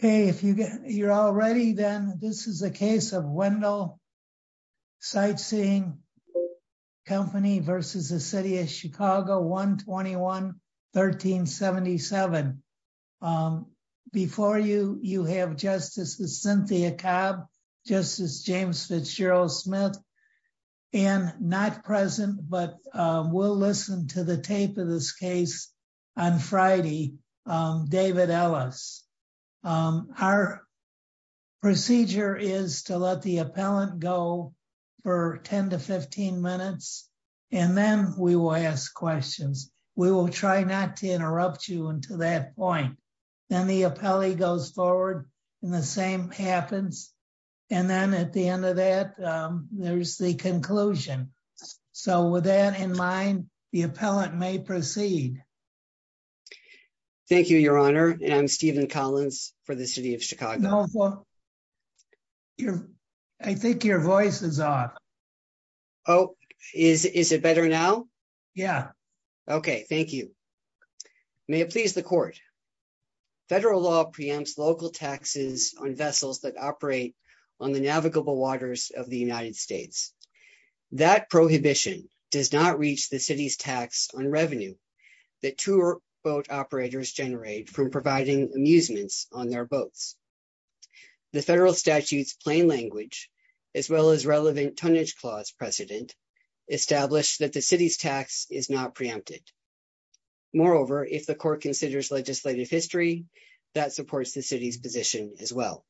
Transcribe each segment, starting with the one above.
Okay, if you're all ready, then this is a case of Wendell Sightseeing Co., Inc. v. City of Chicago, 121-1377. Before you, you have Justice Cynthia Cobb, Justice James Fitzgerald Smith, and not present, but we'll listen to the tape of this case on Friday, David Ellis. Our procedure is to let the appellant go for 10 to 15 minutes, and then we will ask questions. We will try not to interrupt you until that point. Then the appellee goes forward, and the same happens, and then at the end of that, there's the conclusion. So with that in mind, the appellant may proceed. Thank you, Your Honor, and I'm Stephen Collins for the City of Chicago. I think your voice is off. Oh, is it better now? Yeah. Okay, thank you. May it please the Court. Federal law preempts local taxes on vessels that operate on the navigable waters of the United States. That prohibition does not reach the city's tax on revenue that tour boat operators generate from providing amusements on their boats. The federal statute's plain language, as well as relevant tonnage clause precedent, establish that the city's tax is not preempted. Moreover, if the Court considers legislative history, that supports the city's position as well.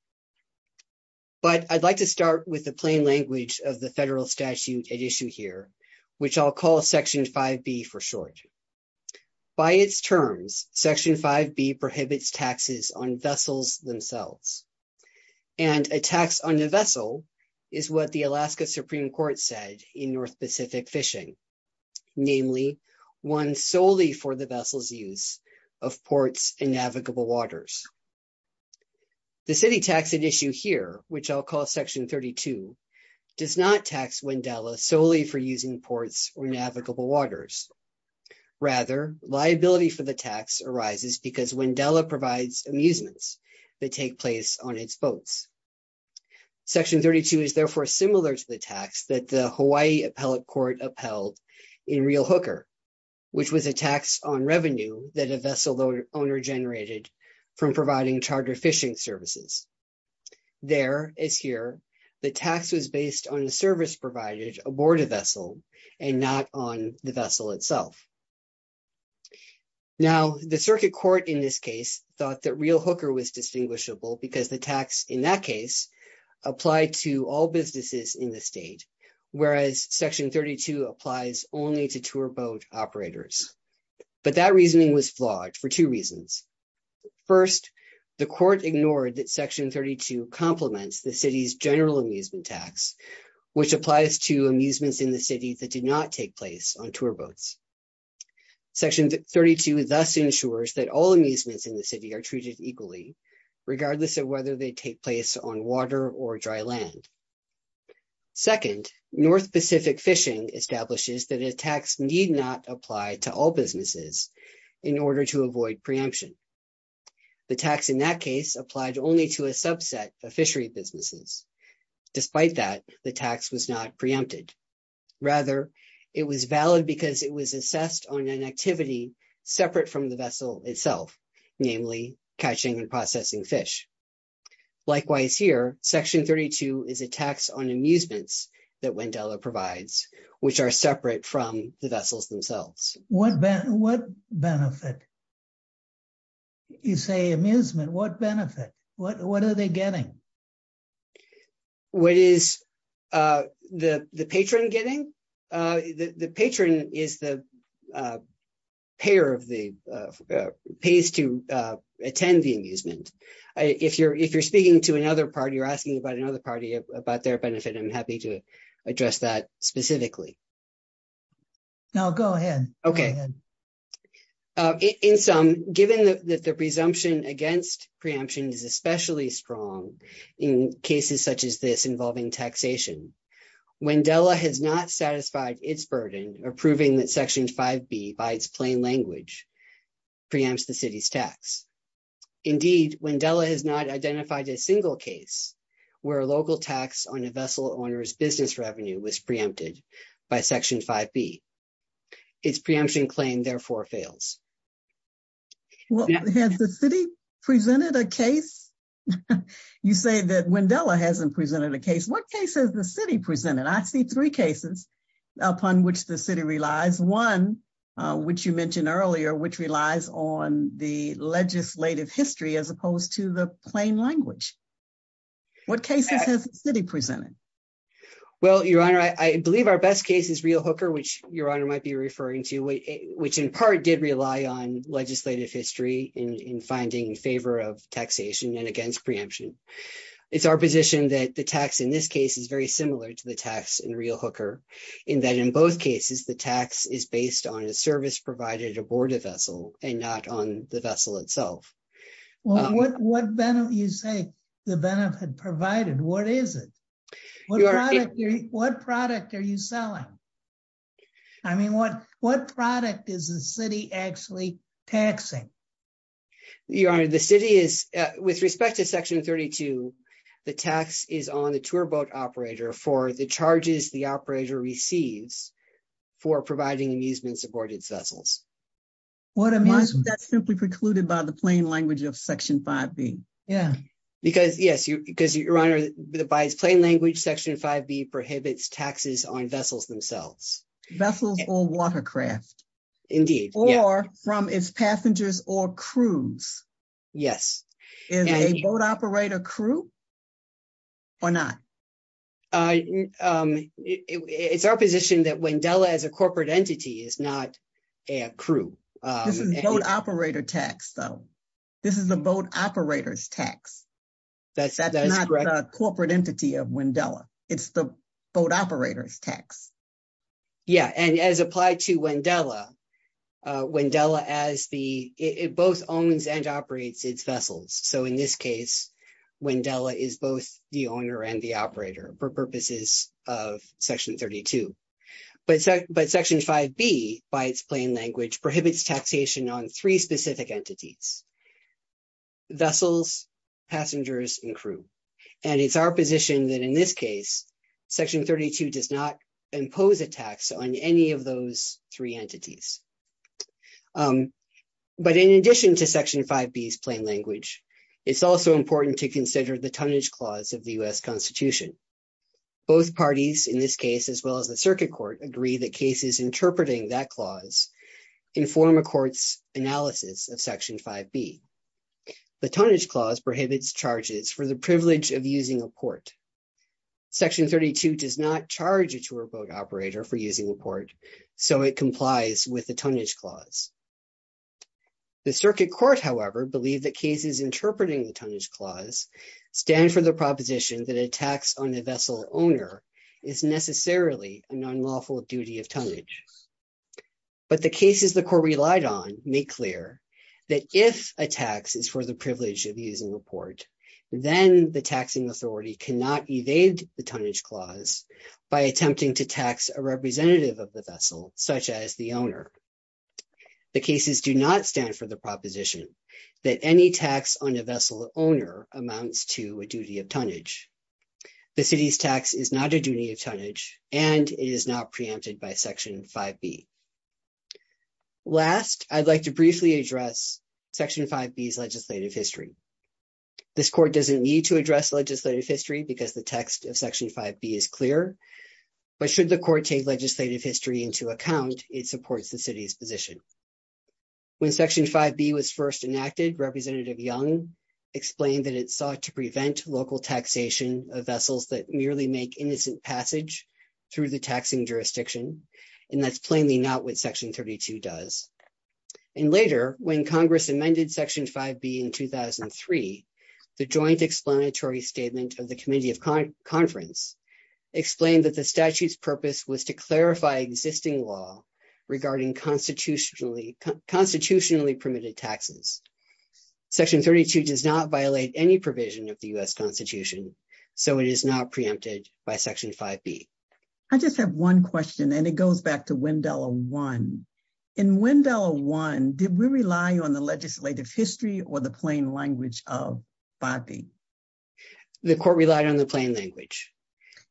But I'd like to start with the plain language of the federal statute at issue here, which I'll call Section 5B for short. By its terms, Section 5B prohibits taxes on vessels themselves, and a tax on a vessel is what the Alaska Supreme Court said in North Pacific Fishing, namely one solely for the vessel's use of ports and navigable waters. The city tax at issue here, which I'll call Section 32, does not tax Wendella solely for using ports or navigable waters. Rather, liability for the tax arises because Wendella provides amusements that take place on its boats. Section 32 is therefore similar to the tax that the Hawaii Court upheld in Real Hooker, which was a tax on revenue that a vessel owner generated from providing charter fishing services. There, as here, the tax was based on the service provided aboard a vessel and not on the vessel itself. Now, the circuit court in this case thought that Real Hooker was distinguishable because the tax in that case applied to all vessels, and Section 32 applies only to tour boat operators. But that reasoning was flawed for two reasons. First, the court ignored that Section 32 complements the city's general amusement tax, which applies to amusements in the city that did not take place on tour boats. Section 32 thus ensures that all amusements in the city are treated equally, regardless of whether they take place on water or dry land. Second, North Pacific Fishing establishes that a tax need not apply to all businesses in order to avoid preemption. The tax in that case applied only to a subset of fishery businesses. Despite that, the tax was not preempted. Rather, it was valid because it was assessed on an activity separate from the vessel itself, namely catching and processing fish. Likewise here, Section 32 is a tax on amusements that Wendella provides, which are separate from the vessels themselves. What benefit? You say amusement. What benefit? What are they getting? What is the patron getting? The patron is the payer of the, pays to attend the amusement. If you're speaking to another party or asking about another party about their benefit, I'm happy to address that specifically. No, go ahead. Okay. In sum, given that the presumption against preemption is especially strong in cases such as this involving taxation, Wendella has not satisfied its burden of proving that Section 5B, by its plain language, preempts the city's tax. Indeed, Wendella has not identified a single case where a local tax on a vessel owner's business revenue was preempted by Section 5B. Its preemption claim therefore fails. Well, has the city presented a case? You say that Wendella hasn't presented a case. What case has the city presented? I see three cases upon which the city relies. One, which you mentioned earlier, which relies on the legislative history as opposed to the plain language. What cases has the city presented? Well, Your Honor, I believe our best case is Real Hooker, which Your Honor might be referring to, which in part did rely on legislative history in finding favor of taxation and against preemption. It's our position that the tax in this case is very similar to the tax in Real Hooker, in that in both cases, the tax is based on a service provided aboard a vessel and not on the vessel itself. Well, what benefit, you say the benefit provided, what is it? What product are you selling? I mean, what product is the city actually taxing? Your Honor, the city is, with respect to Section 32, the tax is on the tour boat operator for the charges the operator receives for providing amusement aboard its vessels. What amusement? That's simply precluded by the plain language of Section 5B. Yeah. Because, yes, Your Honor, by its plain language, Section 5B prohibits taxes on vessels themselves. Vessels or watercraft. Indeed. Or from its passengers or crews. Yes. Is a boat operator crew or not? It's our position that Wendella as a corporate entity is not a crew. This is boat operator tax, though. This is a boat operator's tax. That's not the corporate entity of Wendella. It's the boat operator's tax. Yeah. And as applied to Wendella, Wendella as the, it both owns and operates its vessels. So in this case, Wendella is both the owner and the operator for purposes of Section 32. But Section 5B, by its plain language, prohibits taxation on three specific entities. Vessels, passengers, and crew. And it's our position that in this case, Section 32 does not prohibit taxation on those three entities. But in addition to Section 5B's plain language, it's also important to consider the tonnage clause of the U.S. Constitution. Both parties in this case, as well as the Circuit Court, agree that cases interpreting that clause inform a court's analysis of Section 5B. The tonnage clause prohibits charges for the privilege of using a port. Section 32 does not charge a tour boat operator for using a port, so it complies with the tonnage clause. The Circuit Court, however, believe that cases interpreting the tonnage clause stand for the proposition that a tax on a vessel owner is necessarily an unlawful duty of tonnage. But the cases the court relied on make clear that if a tax is for the privilege of using a port, then the taxing authority cannot evade the tonnage clause by attempting to tax a representative of the vessel, such as the owner. The cases do not stand for the proposition that any tax on a vessel owner amounts to a duty of tonnage. The City's tax is not a duty of tonnage, and it is not preempted by Section 5B. Last, I'd like to briefly address Section 5B's legislative history. This court doesn't need to address legislative history because the text of Section 5B is clear, but should the court take legislative history into account, it supports the City's position. When Section 5B was first enacted, Representative Young explained that it sought to prevent local taxation of vessels that merely make innocent passage through the taxing jurisdiction, and that's plainly not what Section 32 does. And later, when Congress amended Section 5B in 2003, the joint explanatory statement of the Committee of Conference explained that the statute's purpose was to clarify existing law regarding constitutionally permitted taxes. Section 32 does not violate any provision of the U.S. Constitution, so it is not preempted by Section 5B. I just have one question, and it goes back to Wendella 1. In Wendella 1, did we rely on the legislative history or the plain language of 5B? The court relied on the plain language.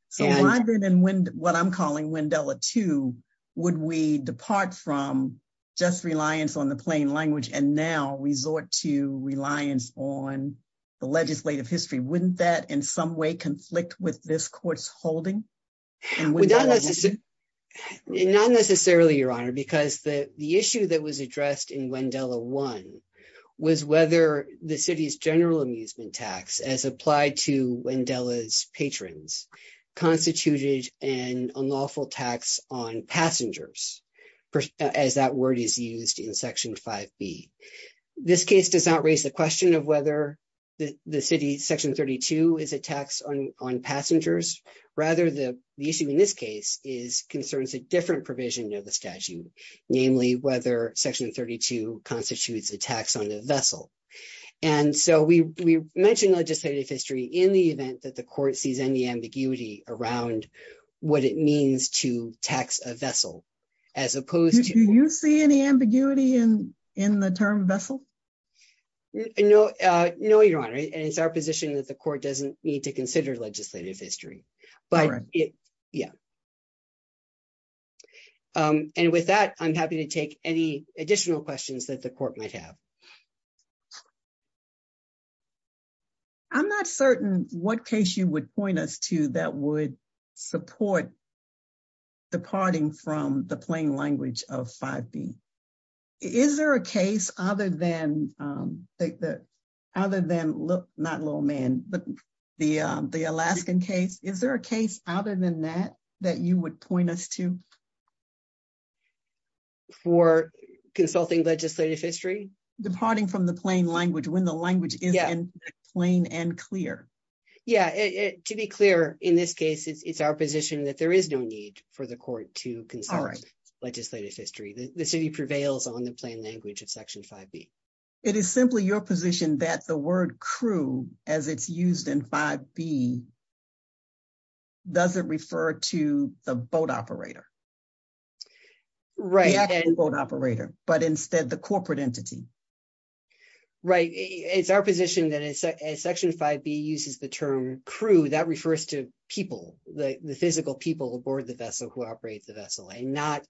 So I've been in what I'm calling Wendella 2. Would we depart from just reliance on the plain language and now resort to reliance on the legislative history? Wouldn't that in some conflict with this court's holding? Not necessarily, Your Honor, because the issue that was addressed in Wendella 1 was whether the City's general amusement tax, as applied to Wendella's patrons, constituted an unlawful tax on passengers, as that word is used in Section 5B. This case does not raise the question of whether the City's Section 32 is a tax on passengers. Rather, the issue in this case concerns a different provision of the statute, namely whether Section 32 constitutes a tax on the vessel. And so we mentioned legislative history in the event that the court sees any ambiguity around what it means to tax a vessel, as opposed to... Do you see any ambiguity in the term vessel? No, Your Honor, and it's our position that the court doesn't need to consider legislative history, but yeah. And with that, I'm happy to take any additional questions that the court might have. I'm not certain what case you would point us to that would support departing from the plain language of 5B. Is there a case other than, not Lowman, but the Alaskan case? Is there a case other than that that you would point us to? For consulting legislative history? Departing from the plain language, when the language is plain and clear. Yeah, to be clear, in this case, it's our position that there is no need for the court to consult legislative history. The City prevails on the plain language of Section 5B. It is simply your position that the word crew, as it's used in 5B, doesn't refer to the boat operator. Right. The actual boat operator, but instead the corporate entity. Right. It's our position that as Section 5B uses the term crew, that refers to people, the physical people aboard the vessel who operate the vessel, and not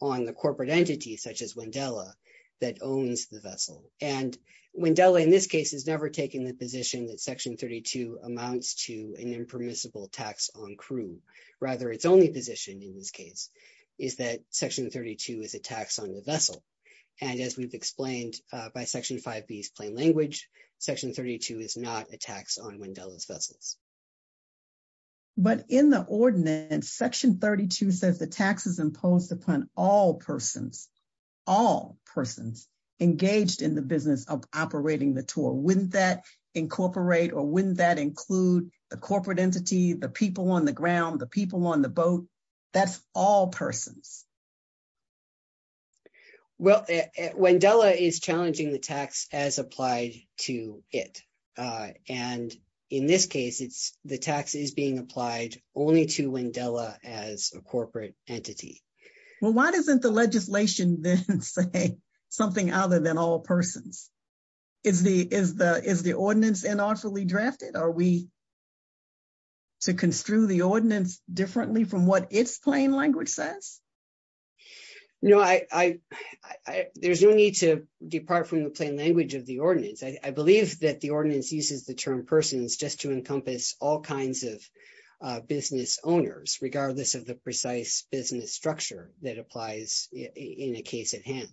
on the corporate entity, such as Wendella, that owns the vessel. And Wendella, in this case, has never taken the position that Section 32 amounts to an impermissible tax on crew. Rather, its only position in this And as we've explained by Section 5B's plain language, Section 32 is not a tax on Wendella's vessels. But in the ordinance, Section 32 says the tax is imposed upon all persons, all persons engaged in the business of operating the tour. Wouldn't that incorporate or wouldn't that include the corporate entity, the people on the ground, the people on the boat? That's all persons. Well, Wendella is challenging the tax as applied to it. And in this case, the tax is being applied only to Wendella as a corporate entity. Well, why doesn't the legislation then say something other than all persons? Is the ordinance unlawfully drafted? Are we to construe the ordinance differently from what its plain language says? No, there's no need to depart from the plain language of the ordinance. I believe that the ordinance uses the term persons just to encompass all kinds of business owners, regardless of the precise business structure that applies in a case at hand.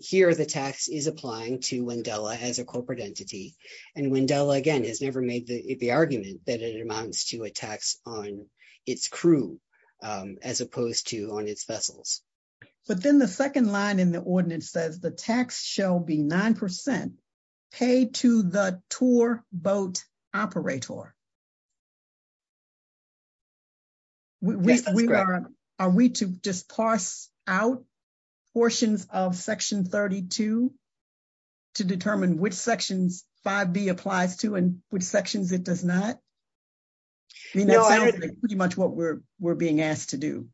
Here, the tax is applying to Wendella as a corporate entity. And Wendella, again, has never made the argument that it amounts to a tax on its crew as opposed to on its vessels. But then the second line in the ordinance says the tax shall be 9% paid to the tour boat operator. Are we to just parse out portions of Section 32 to determine which sections 5B applies to and which sections it does not? We know that's pretty much what we're being asked to do.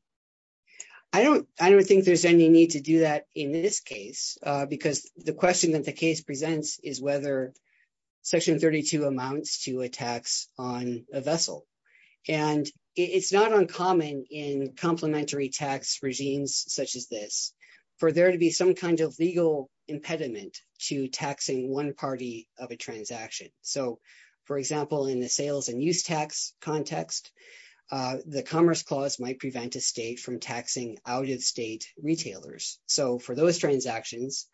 I don't think there's any need to do that in this case, because the question that the case presents is whether Section 32 amounts to a tax on a vessel. And it's not uncommon in complementary tax regimes such as this for there to be some kind of legal impediment to taxing one party of a transaction. So, for example, in the sales and use tax context, the Commerce Clause might prevent a state from taxing out-of-state retailers. So for those transactions,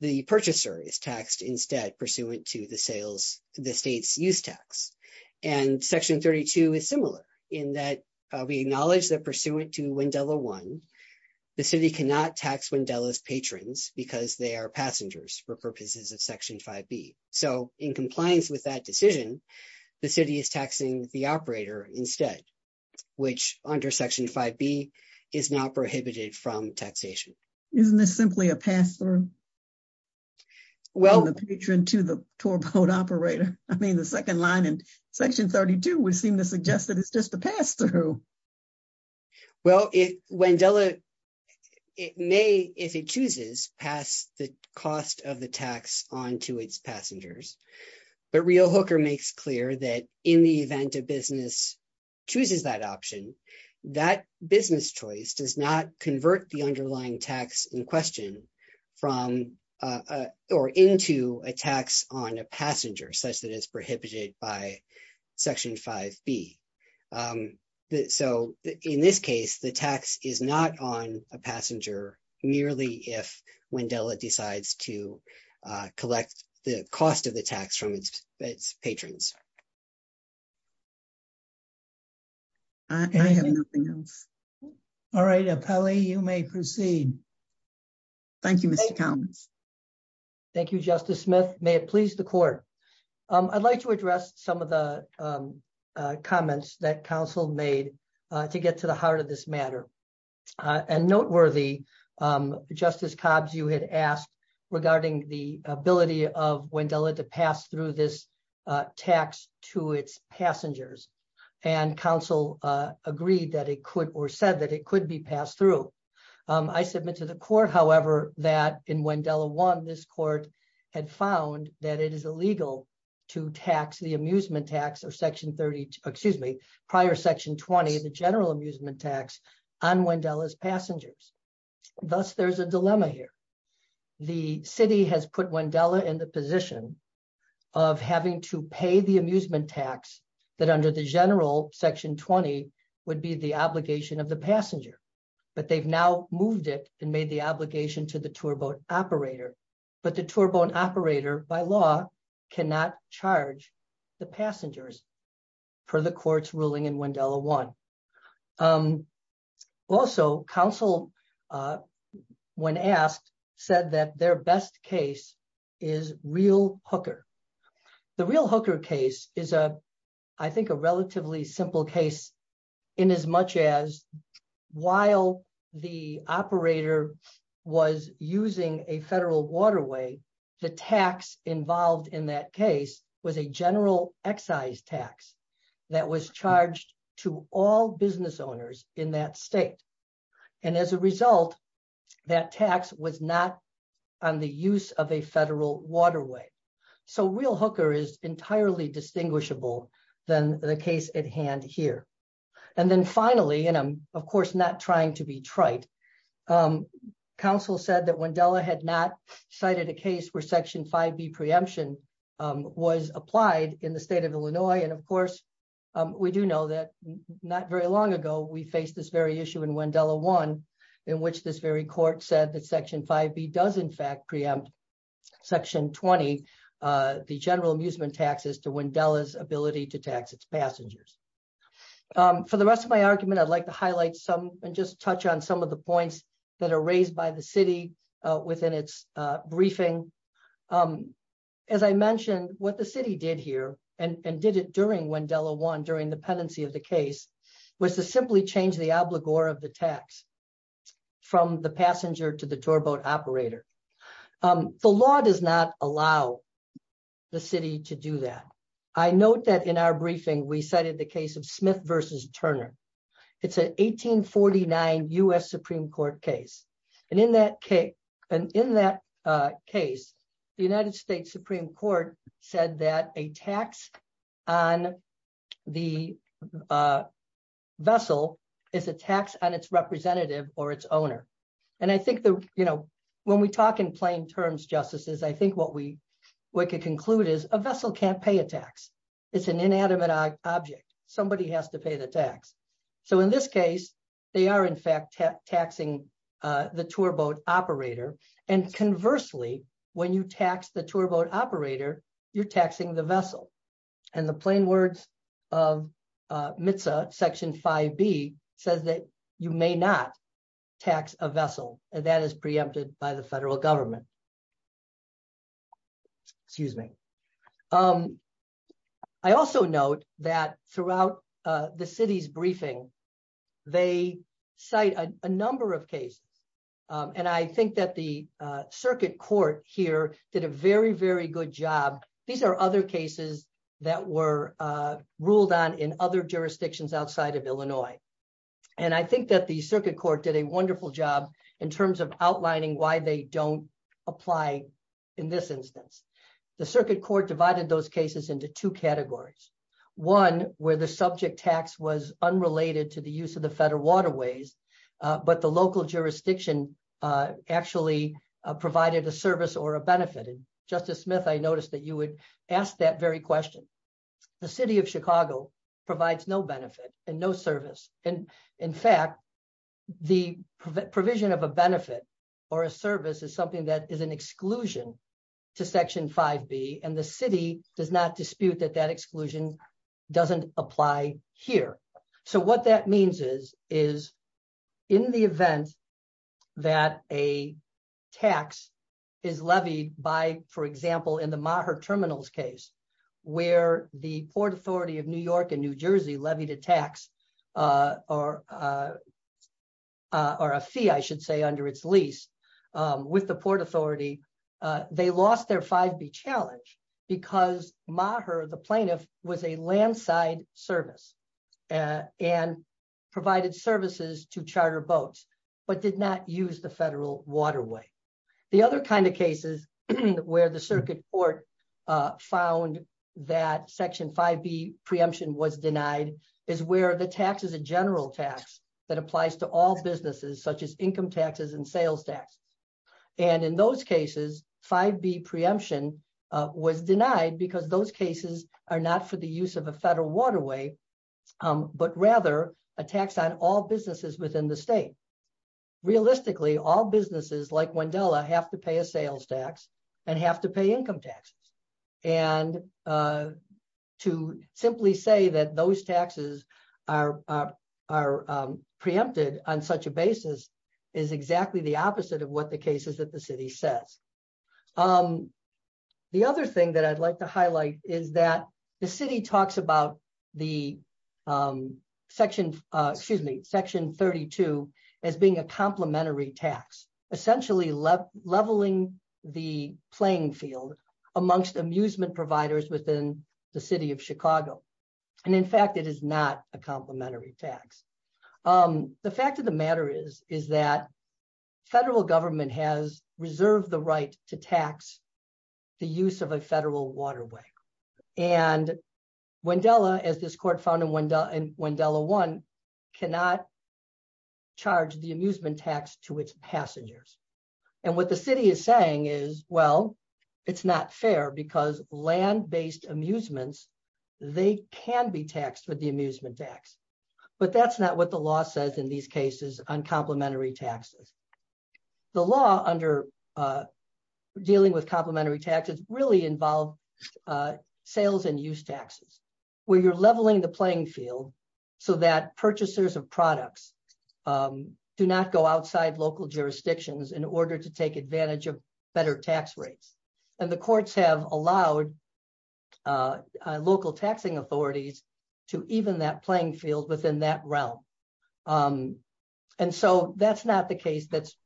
the purchaser is taxed instead pursuant to the state's use tax. And Section 32 is similar, in that we acknowledge that pursuant to Wendella 1, the city cannot tax Wendella's patrons because they are passengers for purposes of Section 5B. So in compliance with that decision, the city is taxing the operator instead, which under Section 5B is not prohibited from taxation. Isn't this simply a pass-through on the patron to the tour boat operator? I mean, the second line in Section 32 would seem to suggest that it's just a pass-through. Well, Wendella may, if it chooses, pass the cost of the tax on to its passengers. But Rio Hooker makes clear that in the event a business chooses that option, that business choice does not convert the underlying tax in question from or into a tax on a passenger such that it's prohibited by Section 5B. So in this case, the tax is not on a passenger merely if Wendella decides to collect the cost of the tax from its patrons. I have nothing else. All right, Apelle, you may proceed. Thank you, Mr. Cowns. Thank you, Justice Smith. May it please the Court. I'd like to address some of the comments that Council made to get to the heart of this matter. And noteworthy, Justice Cobbs, you had asked regarding the ability of Wendella to pass through this tax to its passengers. And Council agreed that it could or said that it could be passed through. I submit to the Court, however, that in Wendella 1, this Court had found that it is illegal to tax the amusement tax or Section 30, excuse me, prior Section 20, the general amusement tax on Wendella's passengers. Thus, there's a dilemma here. The City has put Wendella in the position of having to pay the amusement tax that under the general Section 20 would be the obligation of the passenger. But they've now moved it and made the obligation to the tour boat operator. But the tour boat operator, by law, cannot charge the passengers for the Court's ruling in Wendella 1. Also, Council, when asked, said that their best case is Real Hooker. The Real Hooker case is, I think, a relatively simple case in as much as while the operator was using a federal waterway, the tax involved in that case was a general excise tax that was charged to all business owners in that state. And as a result, that tax was not on the use of a federal waterway. So Real Hooker is entirely distinguishable than the case at hand here. And then finally, of course, not trying to be trite, Council said that Wendella had not cited a case where Section 5B preemption was applied in the state of Illinois. And of course, we do know that not very long ago, we faced this very issue in Wendella 1, in which this very Court said that Section 5B does, in fact, preempt Section 20, the general amusement taxes to Wendella's ability to tax its passengers. For the rest of my argument, I'd like to highlight some and just touch on some of the points that are raised by the City within its briefing. As I mentioned, what the City did here and did it during Wendella 1, during the pendency of the case, was to simply change the obligor of the tax from the passenger to the doorboat operator. The law does not allow the City to do that. I note that in our briefing, we cited the case of Smith v. Turner. It's an 1849 U.S. Supreme Court case. And in that case, the United States Supreme Court said that a tax on the vessel is a tax on its representative or its owner. And I think that, you know, when we talk in plain terms, I think what we could conclude is a vessel can't pay a tax. It's an inanimate object. Somebody has to pay the tax. So, in this case, they are, in fact, taxing the tour boat operator. And conversely, when you tax the tour boat operator, you're taxing the vessel. And the plain words of MTSA, Section 5B, says that you may not tax a vessel. And that is preempted by the federal government. Excuse me. I also note that throughout the City's briefing, they cite a number of cases. And I think that the Circuit Court here did a very, very good job. These are other cases that were ruled on in other jurisdictions outside of Illinois. And I think that the Circuit Court did a wonderful job in terms of outlining why they don't apply in this instance. The Circuit Court divided those cases into two categories. One, where the subject tax was unrelated to the use of the federal waterways, but the local jurisdiction actually provided a service or a benefit. And Justice Smith, I noticed that you would ask that very question. The City of Chicago provides no benefit and no service. In fact, the provision of a benefit or a service is something that is an exclusion to Section 5B. And the City does not dispute that that exclusion doesn't apply here. So, what that means is, in the event that a tax is levied by, for example, in the Maher Terminals case, where the Port Authority of New York and New Jersey levied a tax or a fee, I should say, under its lease with the Port Authority, they lost their 5B challenge because Maher, the plaintiff, was a landside service and provided services to charter boats, but did not use the federal waterway. The other kind of cases where the Circuit Court found that Section 5B preemption was denied is where the tax is a general tax that applies to all businesses, such as income taxes and sales tax. And in those cases, 5B preemption was denied because those cases are not for the use of a federal waterway, but rather a tax on all businesses within the city. Realistically, all businesses, like Wendella, have to pay a sales tax and have to pay income taxes. And to simply say that those taxes are preempted on such a basis is exactly the opposite of what the case is that the City says. The other thing that I'd like to highlight is that the City talks about Section 32 as being a complementary tax, essentially leveling the playing field amongst amusement providers within the City of Chicago. And in fact, it is not a complementary tax. The fact of the matter is that federal government has reserved the right to tax the use of a federal waterway. And Wendella, as this Court found in Wendella 1, cannot charge the amusement tax to its passengers. And what the City is saying is, well, it's not fair because land-based amusements, they can be taxed with the amusement tax. But that's not what the really involve sales and use taxes, where you're leveling the playing field so that purchasers of products do not go outside local jurisdictions in order to take advantage of better tax rates. And the courts have allowed local taxing authorities to even that playing field within that realm. And so that's not the case that's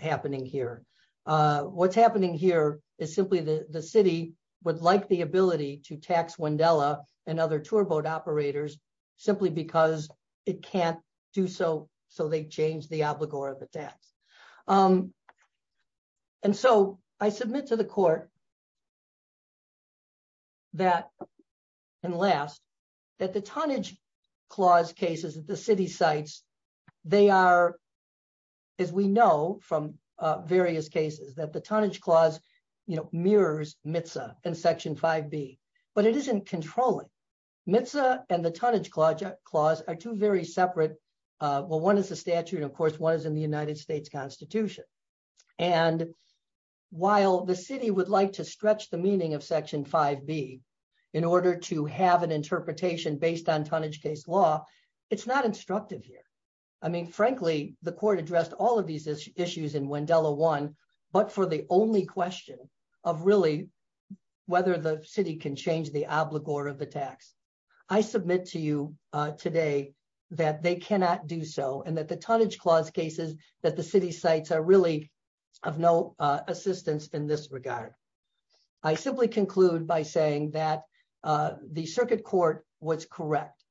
happening here. What's happening here is simply the City would like the ability to tax Wendella and other tour boat operators simply because it can't do so, so they change the obligor of the tax. And so I submit to the Court that, and last, that the tonnage clause cases that the City cites, they are, as we know from various cases, that the tonnage clause mirrors MTSA and Section 5B, but it isn't controlling. MTSA and the tonnage clause are two very separate, well, one is the statute, of course, one is in the United States Constitution. And while the City would like to stretch the meaning of Section 5B in order to have an interpretation based on tonnage case law, it's not instructive here. I mean, frankly, the Court addressed all of these issues in Wendella 1, but for the only question of really whether the City can change the obligor of the tax. I submit to you today that they cannot do so, and that the tonnage clause cases that the City cites are really of no assistance in this regard. I simply conclude by saying that the Circuit Court was correct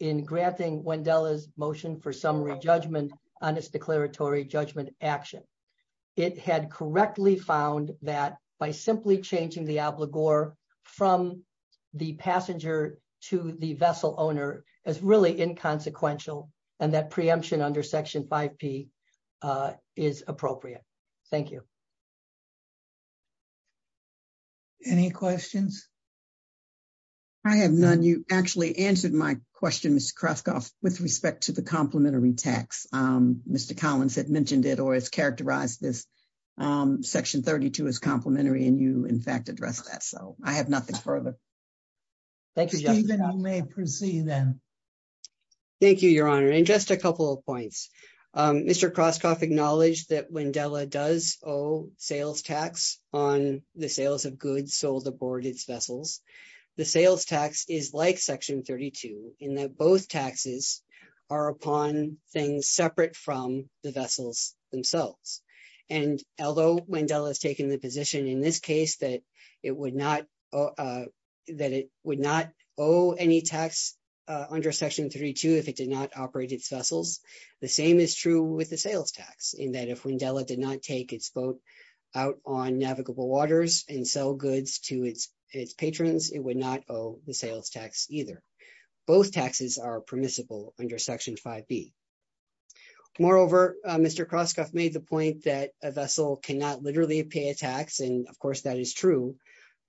in granting Wendella's motion for summary judgment on its declaratory judgment action. It had correctly found that by simply changing the obligor from the passenger to the vessel owner is really inconsequential, and that preemption under Section 5P is appropriate. Thank you. Any questions? I have none. You actually answered my question, Mr. Kroskoff, with respect to the complementary tax. Mr. Collins had mentioned it, or has characterized this Section 32 as complementary, and you, in fact, addressed that. So I have nothing further. Thank you. I may proceed then. Thank you, Your Honor. And just a couple of points. Mr. Kroskoff acknowledged that Wendella does owe sales tax on the sales of goods sold aboard its vessels. The sales tax is like Section 32 in that both taxes are upon things separate from the vessels themselves. And although Wendella has taken the position in this case that it would not owe any tax under Section 32 if it did not take its boat out on navigable waters and sell goods to its patrons, it would not owe the sales tax either. Both taxes are permissible under Section 5B. Moreover, Mr. Kroskoff made the point that a vessel cannot literally pay a tax, and, of course, that is true.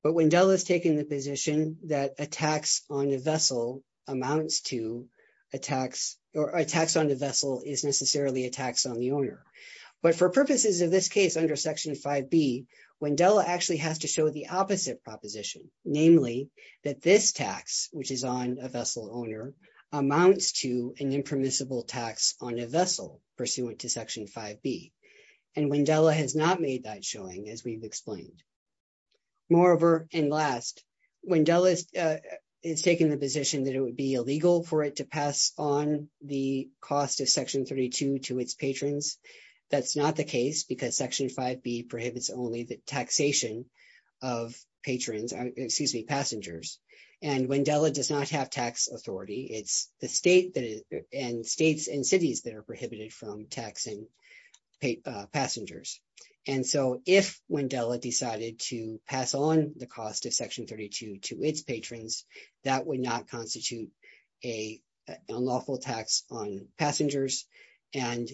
But Wendella has taken the position that a tax on a vessel amounts to a tax or a tax on the vessel is necessarily a tax on the owner. But for purposes of this case under Section 5B, Wendella actually has to show the opposite proposition, namely that this tax, which is on a vessel owner, amounts to an impermissible tax on a vessel pursuant to Section 5B. And Wendella has not made that showing, as we've explained. Moreover, and last, Wendella has taken the position that it would be illegal for it to That's not the case because Section 5B prohibits only the taxation of patrons, excuse me, passengers. And Wendella does not have tax authority. It's the state and states and cities that are prohibited from taxing passengers. And so if Wendella decided to pass on the cost of Section 32 to its patrons, that would not constitute an unlawful tax on passengers, and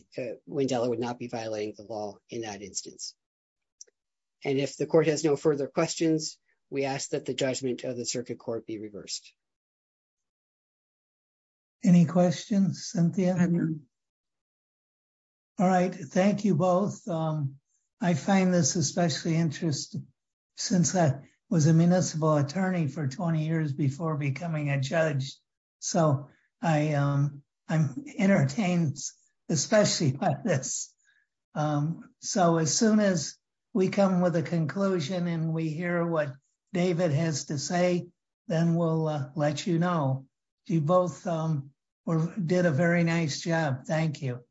Wendella would not be violating the law in that instance. And if the Court has no further questions, we ask that the judgment of the Circuit Court be reversed. Any questions, Cynthia? All right, thank you both. I find this especially interesting since I was a municipal attorney for 20 years before becoming a judge. So I'm entertained especially by this. So as soon as we come with a conclusion and we hear what David has to say, then we'll let you know. You both did a very nice job. Thank you.